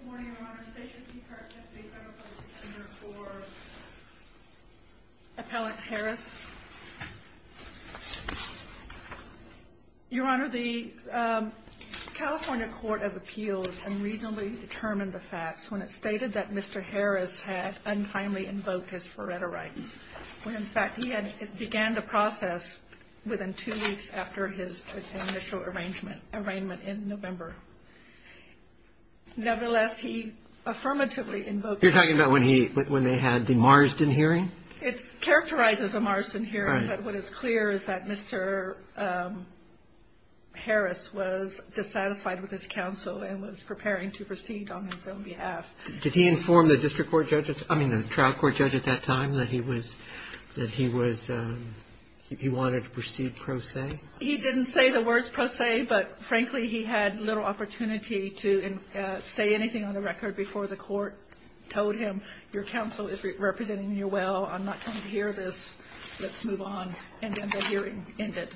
Good morning, Your Honor. State your name, card, testimony, and federal public defender for Appellant Harris. Your Honor, the California Court of Appeals unreasonably determined the facts when it stated that Mr. Harris had untimely invoked his Faretta rights, when in fact he had began the process within two weeks after his initial arrangement in November. Nevertheless, he affirmatively invoked his Faretta rights. You're talking about when he – when they had the Marsden hearing? It characterizes a Marsden hearing. Right. But what is clear is that Mr. Harris was dissatisfied with his counsel and was preparing to proceed on his own behalf. Did he inform the district court judge – I mean, the trial court judge at that time that he was – that he was – he wanted to proceed pro se? He didn't say the words pro se, but frankly, he had little opportunity to say anything on the record before the court told him, your counsel is representing you well, I'm not going to hear this, let's move on, and then the hearing ended.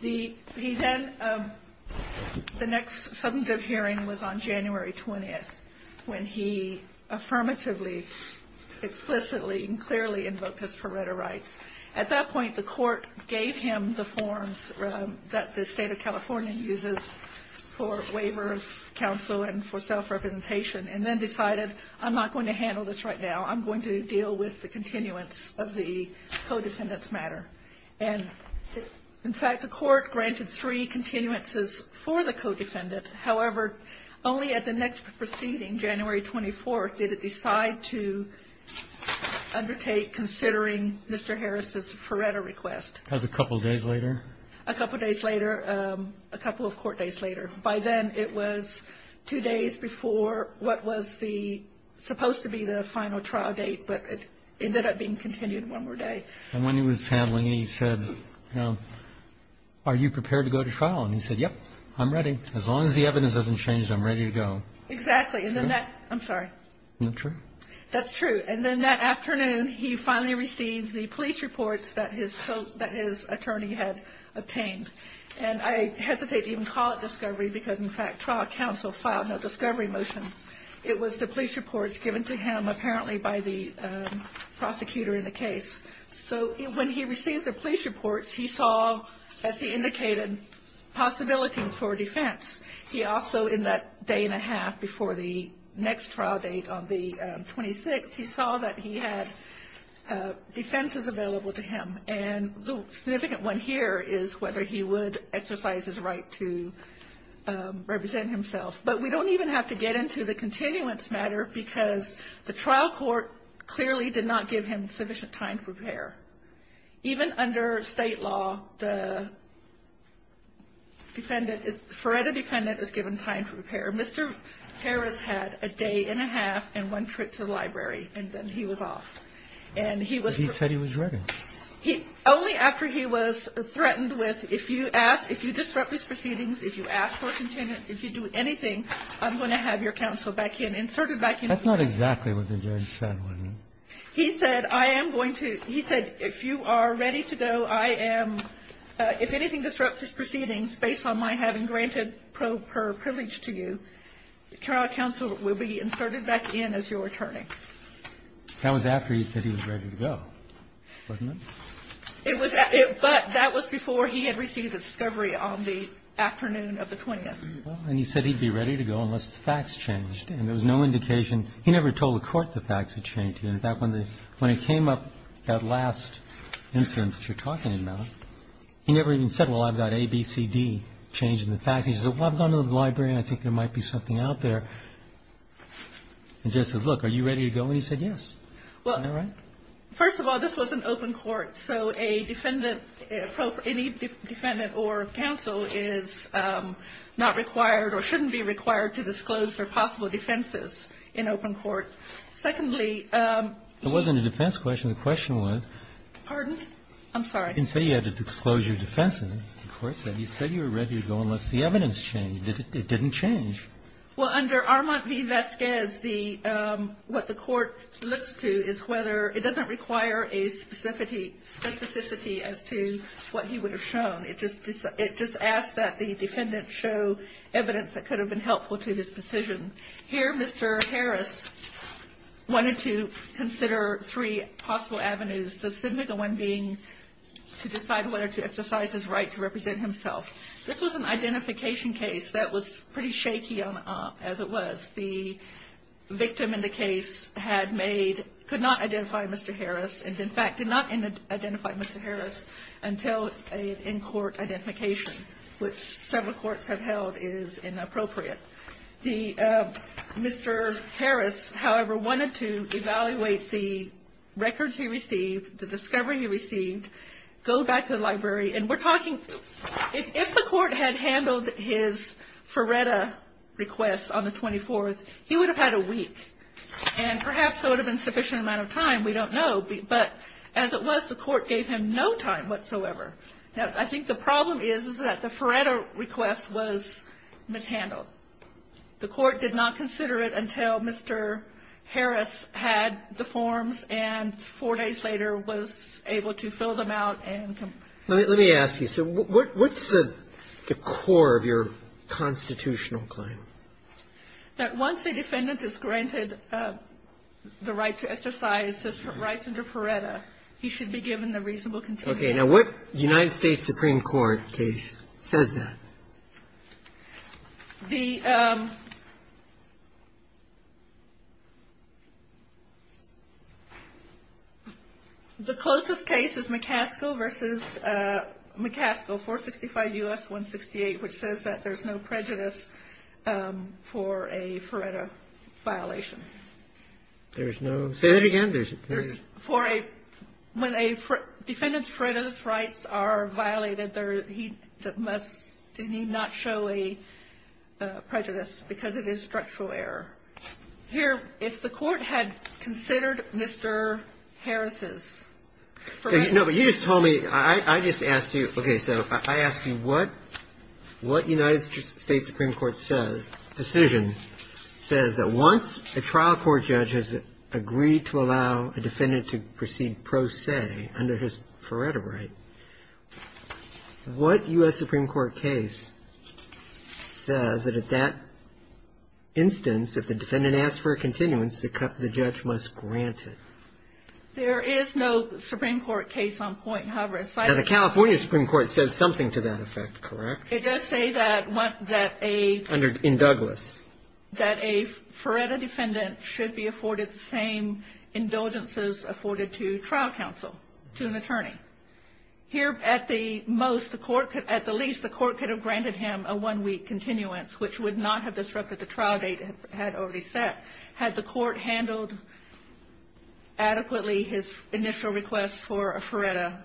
The – he then – the next substantive hearing was on January 20th, when he affirmatively, explicitly, and clearly invoked his Faretta rights. At that point, the court gave him the forms that the State of California uses for waiver of counsel and for self-representation and then decided I'm not going to handle this right now, I'm going to deal with the continuance of the co-defendant's matter. And in fact, the court granted three continuances for the co-defendant. However, only at the next proceeding, January 24th, did it decide to undertake considering Mr. Harris's Faretta request. As a couple days later? A couple days later, a couple of court days later. By then, it was two days before what was the – supposed to be the final trial date, but it ended up being continued one more day. And when he was handling it, he said, you know, are you prepared to go to trial? And he said, yep, I'm ready. As long as the evidence hasn't changed, I'm ready to go. Exactly. And then that – I'm sorry. Isn't that true? That's true. And then that afternoon, he finally received the police reports that his – that his attorney had obtained. And I hesitate to even call it discovery because, in fact, trial counsel filed no discovery motions. It was the police reports given to him apparently by the prosecutor in the case. So when he received the police reports, he saw, as he indicated, possibilities for defense. He also, in that day and a half before the next trial date on the 26th, he saw that he had defenses available to him. And the significant one here is whether he would exercise his right to represent himself. But we don't even have to get into the continuance matter because the trial court clearly did not give him sufficient time to prepare. Even under state law, the defendant is – the FREDA defendant is given time to prepare. Mr. Harris had a day and a half and one trip to the library, and then he was off. And he was – But he said he was ready. He – only after he was threatened with, if you ask – if you disrupt these proceedings, if you ask for a continuance, if you do anything, I'm going to have your counsel back in, inserted back in. That's not exactly what the judge said, was it? He said, I am going to – he said, if you are ready to go, I am – if anything disrupts these proceedings based on my having granted pro per privilege to you, trial counsel will be inserted back in as your attorney. That was after he said he was ready to go, wasn't it? It was – but that was before he had received a discovery on the afternoon of the 20th. And he said he'd be ready to go unless the facts changed. And there was no indication – he never told the court the facts had changed. In fact, when the – when it came up, that last incident that you're talking about, he never even said, well, I've got A, B, C, D changed in the facts. He said, well, I've gone to the library, and I think there might be something out there. The judge said, look, are you ready to go? And he said, yes. Isn't that right? First of all, this was an open court, so a defendant – any defendant or counsel is not required or shouldn't be required to disclose their possible defenses in open court. Secondly – It wasn't a defense question. The question was – Pardon? I'm sorry. You didn't say you had to disclose your defenses. The court said you said you were ready to go unless the evidence changed. It didn't change. Well, under Armand v. Vasquez, the – what the court looks to is whether – it doesn't require a specificity as to what he would have shown. It just asks that the defendant show evidence that could have been helpful to his decision. Here, Mr. Harris wanted to consider three possible avenues, the significant one being to decide whether to exercise his right to represent himself. This was an identification case that was pretty shaky as it was. The victim in the case had made – could not identify Mr. Harris and, in fact, did not identify Mr. Harris until an in-court identification, which several courts have held is inappropriate. Mr. Harris, however, wanted to evaluate the records he received, the discovery he received, go back to the library. And we're talking – if the court had handled his Feretta request on the 24th, he would have had a week. And perhaps there would have been a sufficient amount of time. We don't know. But as it was, the court gave him no time whatsoever. Now, I think the problem is that the Feretta request was mishandled. The court did not consider it until Mr. Harris had the forms and four days later was able to fill them out and – Let me ask you. So what's the core of your constitutional claim? That once a defendant is granted the right to exercise his rights under Feretta, he should be given the reasonable condition. Okay. Now, what United States Supreme Court case says that? The closest case is McCaskill v. McCaskill, 465 U.S. 168, which says that there's no prejudice for a Feretta violation. There's no – say that again. There's – For a – when a defendant's Feretta's rights are violated, there – he must – did he not show a prejudice because it is structural error. Here, if the court had considered Mr. Harris's – No, but you just told me – I just asked you – okay. So I asked you what United States Supreme Court said – decision says that once a trial court judge has agreed to allow a defendant to proceed pro se under his Feretta right, what U.S. Supreme Court case says that at that instance, if the defendant asks for a continuance, the judge must grant it? There is no Supreme Court case on point. However, if I – Now, the California Supreme Court says something to that effect, correct? It does say that a – In Douglas. That a Feretta defendant should be afforded the same indulgences afforded to trial counsel, to an attorney. Here, at the most, the court – at the least, the court could have granted him a one-week continuance, which would not have disrupted the trial date it had already set, had the court handled adequately his initial request for a Feretta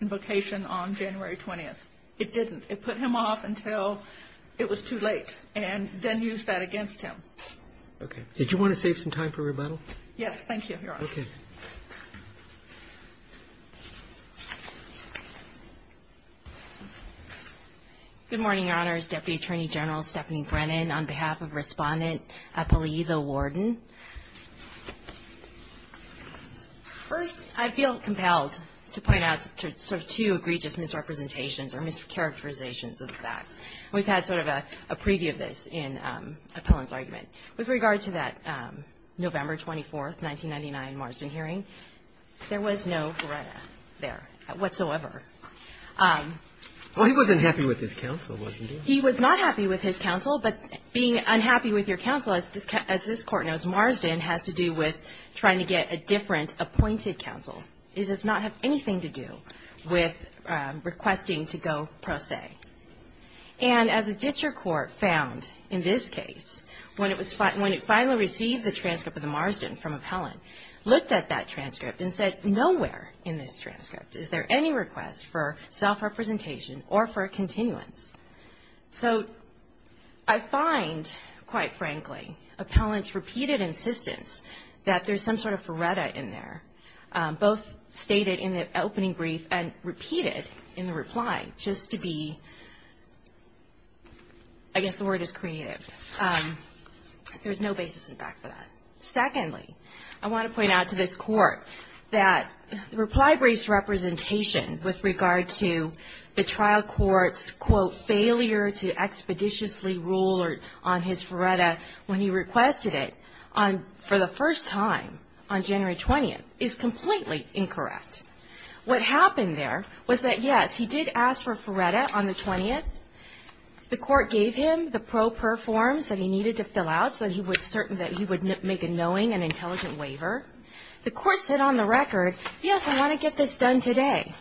invocation on January 20th. It didn't. It put him off until it was too late, and then used that against him. Okay. Did you want to save some time for rebuttal? Yes. Thank you, Your Honor. Okay. Good morning, Your Honors. Deputy Attorney General Stephanie Brennan, on behalf of Respondent Pellea the Warden. First, I feel compelled to point out sort of two egregious misrepresentations or mischaracterizations of the facts. We've had sort of a preview of this in Appellant's argument. With regard to that November 24th, 1999 Marsden hearing, there was no Feretta there whatsoever. Well, he wasn't happy with his counsel, wasn't he? He was not happy with his counsel, but being unhappy with your counsel, as this court knows, Marsden has to do with trying to get a different appointed counsel. It does not have anything to do with requesting to go pro se. And as the district court found in this case, when it finally received the transcript of the Marsden from Appellant, looked at that transcript and said, nowhere in this transcript is there any request for self-representation or for a continuance. So I find, quite frankly, Appellant's repeated insistence that there's some sort of Feretta in there, both stated in the opening brief and repeated in the reply, just to be, I guess the word is creative. There's no basis in fact for that. Secondly, I want to point out to this court that the reply brief's representation with regard to the trial court's, quote, failure to expeditiously rule on his Feretta when he requested it for the first time on January 20th is completely incorrect. What happened there was that, yes, he did ask for Feretta on the 20th. The court gave him the pro per forms that he needed to fill out so that he would make a knowing and intelligent waiver. The court said on the record, yes, I want to get this done today.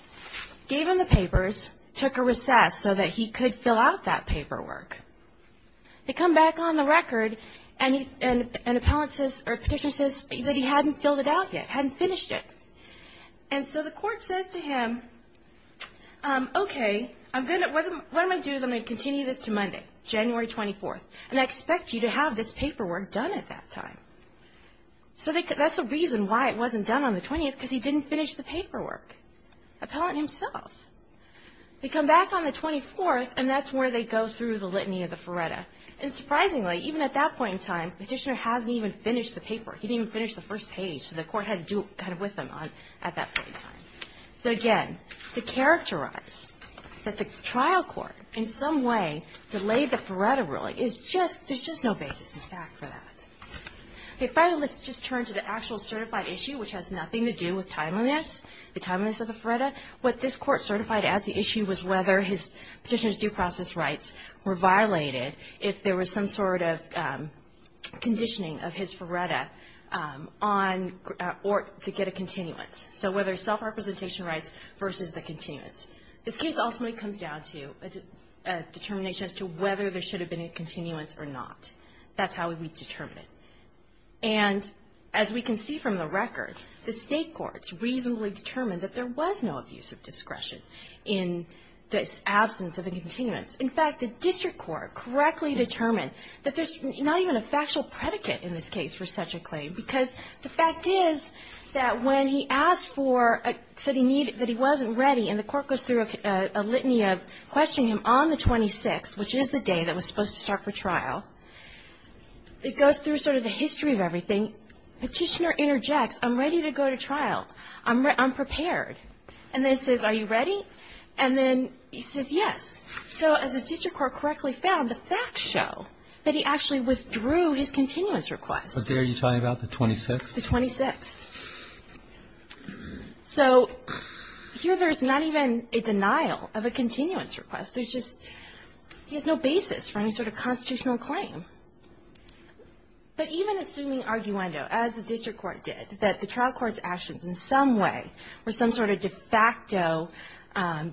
Gave him the papers, took a recess so that he could fill out that paperwork. They come back on the record, and Appellant says, or Petitioner says that he hadn't filled it out yet, hadn't finished it. And so the court says to him, okay, what I'm going to do is I'm going to continue this to Monday, January 24th, and I expect you to have this paperwork done at that time. So that's the reason why it wasn't done on the 20th, because he didn't finish the paperwork. Appellant himself. They come back on the 24th, and that's where they go through the litany of the Feretta. And surprisingly, even at that point in time, Petitioner hasn't even finished the paperwork. He didn't even finish the first page. So the court had to do it kind of with him at that point in time. So, again, to characterize that the trial court in some way delayed the Feretta ruling, there's just no basis in fact for that. Finally, let's just turn to the actual certified issue, which has nothing to do with timeliness, the timeliness of the Feretta. What this court certified as the issue was whether Petitioner's due process rights were violated if there was some sort of conditioning of his Feretta on or to get a continuance. So whether self-representation rights versus the continuance. This case ultimately comes down to a determination as to whether there should have been a continuance or not. That's how we determine it. And as we can see from the record, the State courts reasonably determined that there was no abuse of discretion in the absence of a continuance. In fact, the district court correctly determined that there's not even a factual predicate in this case for such a claim because the fact is that when he asked for, said he needed, that he wasn't ready, and the court goes through a litany of questioning him on the 26th, which is the day that was supposed to start for trial, it goes through sort of the history of everything. Petitioner interjects, I'm ready to go to trial. I'm prepared. And then says, are you ready? And then he says, yes. So as the district court correctly found, the facts show that he actually withdrew his continuance request. But there you're talking about the 26th? The 26th. So here there's not even a denial of a continuance request. There's just no basis for any sort of constitutional claim. But even assuming arguendo, as the district court did, that the trial court's actions in some way were some sort of de facto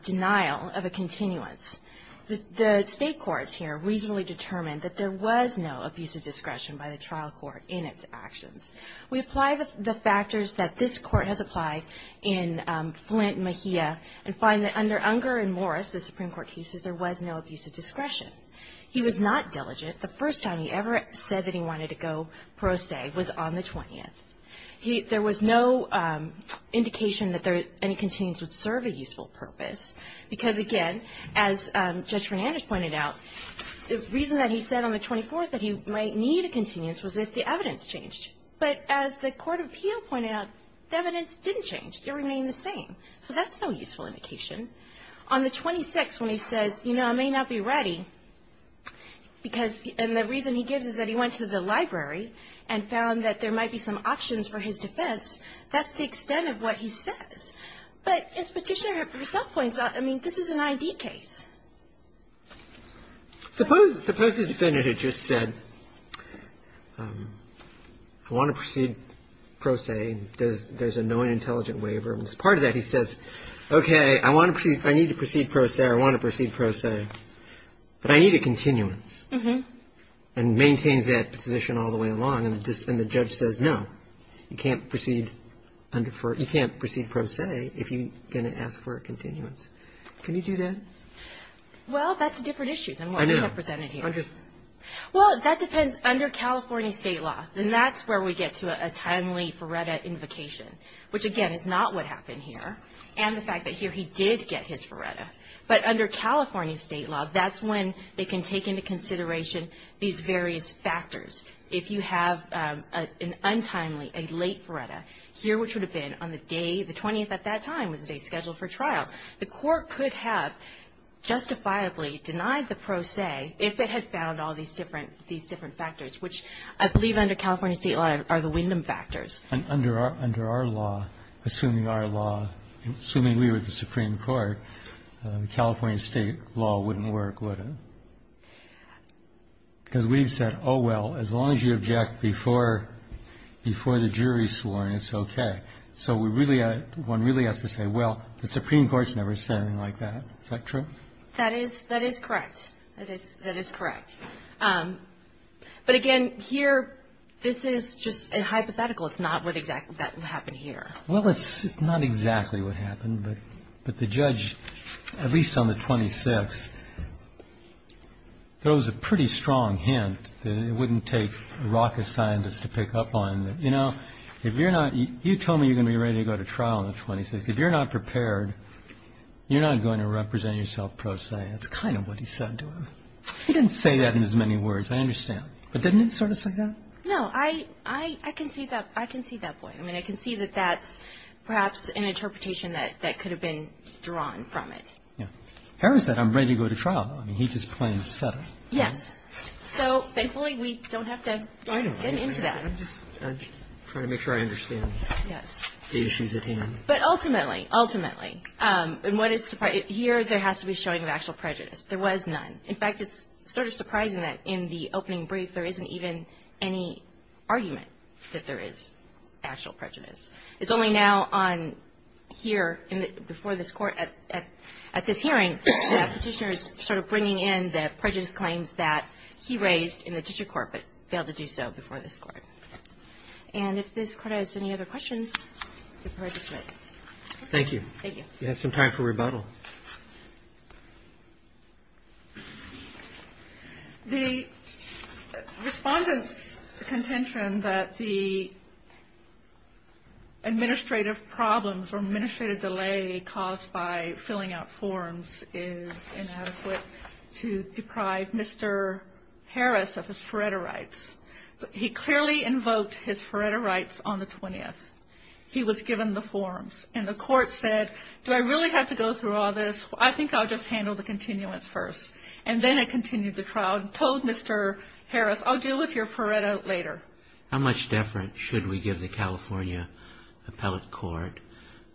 denial of a continuance, the state courts here reasonably determined that there was no abusive discretion by the trial court in its actions. We apply the factors that this court has applied in Flint, Mejia, and find that under Unger and Morris, the Supreme Court cases, there was no abusive discretion. He was not diligent. The first time he ever said that he wanted to go pro se was on the 20th. There was no indication that any continuance would serve a useful purpose. Because, again, as Judge Fernandez pointed out, the reason that he said on the 24th that he might need a continuance was if the evidence changed. But as the court of appeal pointed out, the evidence didn't change. It remained the same. So that's no useful indication. On the 26th, when he says, you know, I may not be ready, because the reason he gives is that he went to the library and found that there might be some options for his defense, that's the extent of what he says. But as Petitioner herself points out, I mean, this is an I.D. case. Suppose the defendant had just said, I want to proceed pro se. There's a knowing, intelligent waiver. And as part of that, he says, okay, I want to proceed. I need to proceed pro se. I want to proceed pro se. But I need a continuance. And maintains that position all the way along. And the judge says, no, you can't proceed pro se if you're going to ask for a continuance. Can you do that? Well, that's a different issue than what we have presented here. I know. Well, that depends under California state law. And that's where we get to a timely FARETA invocation, which, again, is not what happened here. And the fact that here he did get his FARETA. But under California state law, that's when they can take into consideration these various factors. If you have an untimely, a late FARETA, here which would have been on the day, the 20th at that time was the day scheduled for trial. The court could have justifiably denied the pro se if it had found all these different factors, which I believe under California state law are the Wyndham factors. And under our law, assuming our law, assuming we were the Supreme Court, California state law wouldn't work, would it? Because we've said, oh, well, as long as you object before the jury's sworn, it's okay. So we really, one really has to say, well, the Supreme Court's never said anything like that. Is that true? That is correct. That is correct. But, again, here this is just a hypothetical. It's not what exactly happened here. Well, it's not exactly what happened. But the judge, at least on the 26th, throws a pretty strong hint that it wouldn't take rocket scientists to pick up on. You know, if you're not, you told me you're going to be ready to go to trial on the 26th. If you're not prepared, you're not going to represent yourself pro se. That's kind of what he said to him. He didn't say that in as many words, I understand. But didn't he sort of say that? No. I can see that point. I mean, I can see that that's perhaps an interpretation that could have been drawn from it. Yeah. Harris said, I'm ready to go to trial. I mean, he just plain said it. Yes. So, thankfully, we don't have to get into that. I'm just trying to make sure I understand the issues at hand. But, ultimately, ultimately, and what is surprising, here there has to be showing of actual prejudice. There was none. In fact, it's sort of surprising that in the opening brief there isn't even any argument that there is actual prejudice. It's only now on here, before this Court, at this hearing, that Petitioner is sort of bringing in the prejudice claims that he raised in the district court but failed to do so before this Court. And if this Court has any other questions, you're prepared to submit. Thank you. Thank you. We have some time for rebuttal. The Respondent's contention that the administrative problems or administrative delay caused by filling out forms is inadequate to deprive Mr. Harris of his Faretta rights, he clearly invoked his Faretta rights on the 20th. He was given the forms. And the Court said, do I really have to go through all this? I think I'll just handle the continuance first. And then it continued the trial and told Mr. Harris, I'll deal with your Faretta later. How much deference should we give the California Appellate Court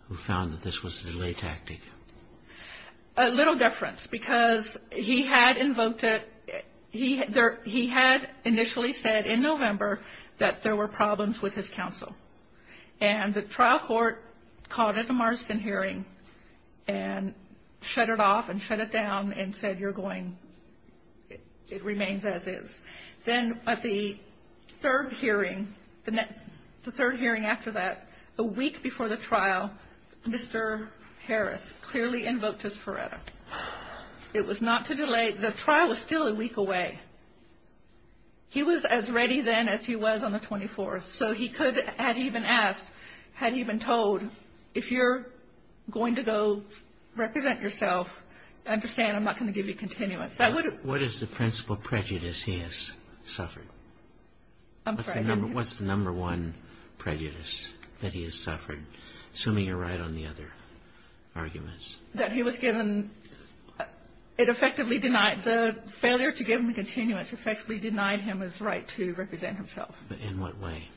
who found that this was a delay tactic? A little deference because he had invoked it. He had initially said in November that there were problems with his counsel. And the trial court called it a Marston hearing and shut it off and shut it down and said you're going, it remains as is. Then at the third hearing, the third hearing after that, a week before the trial, Mr. Harris clearly invoked his Faretta. It was not to delay. The trial was still a week away. He was as ready then as he was on the 24th. So he could, had he been asked, had he been told, if you're going to go represent yourself, understand I'm not going to give you continuance. What is the principal prejudice he has suffered? I'm sorry. What's the number one prejudice that he has suffered, assuming you're right on the other arguments? That he was given, it effectively denied, the failure to give him continuance effectively denied him his right to represent himself. In what way?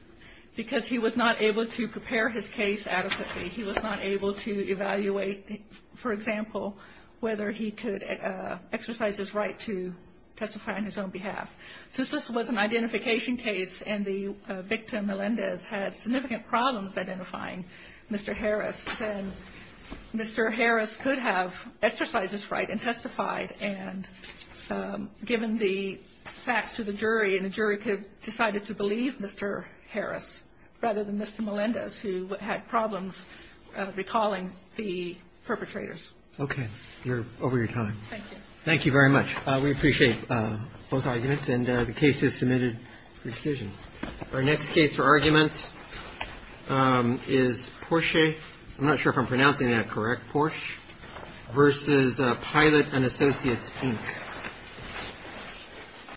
Because he was not able to prepare his case adequately. He was not able to evaluate, for example, whether he could exercise his right to testify on his own behalf. Since this was an identification case and the victim, Melendez, had significant problems identifying Mr. Harris, then Mr. Harris could have exercised his right and testified. And given the facts to the jury, and the jury could have decided to believe Mr. Harris rather than Mr. Melendez, who had problems recalling the perpetrators. Okay. You're over your time. Thank you. Thank you very much. We appreciate both arguments. And the case is submitted for decision. Our next case for argument is Porsche. I'm not sure if I'm pronouncing that correct, Porsche, versus Pilot and Associates, Inc.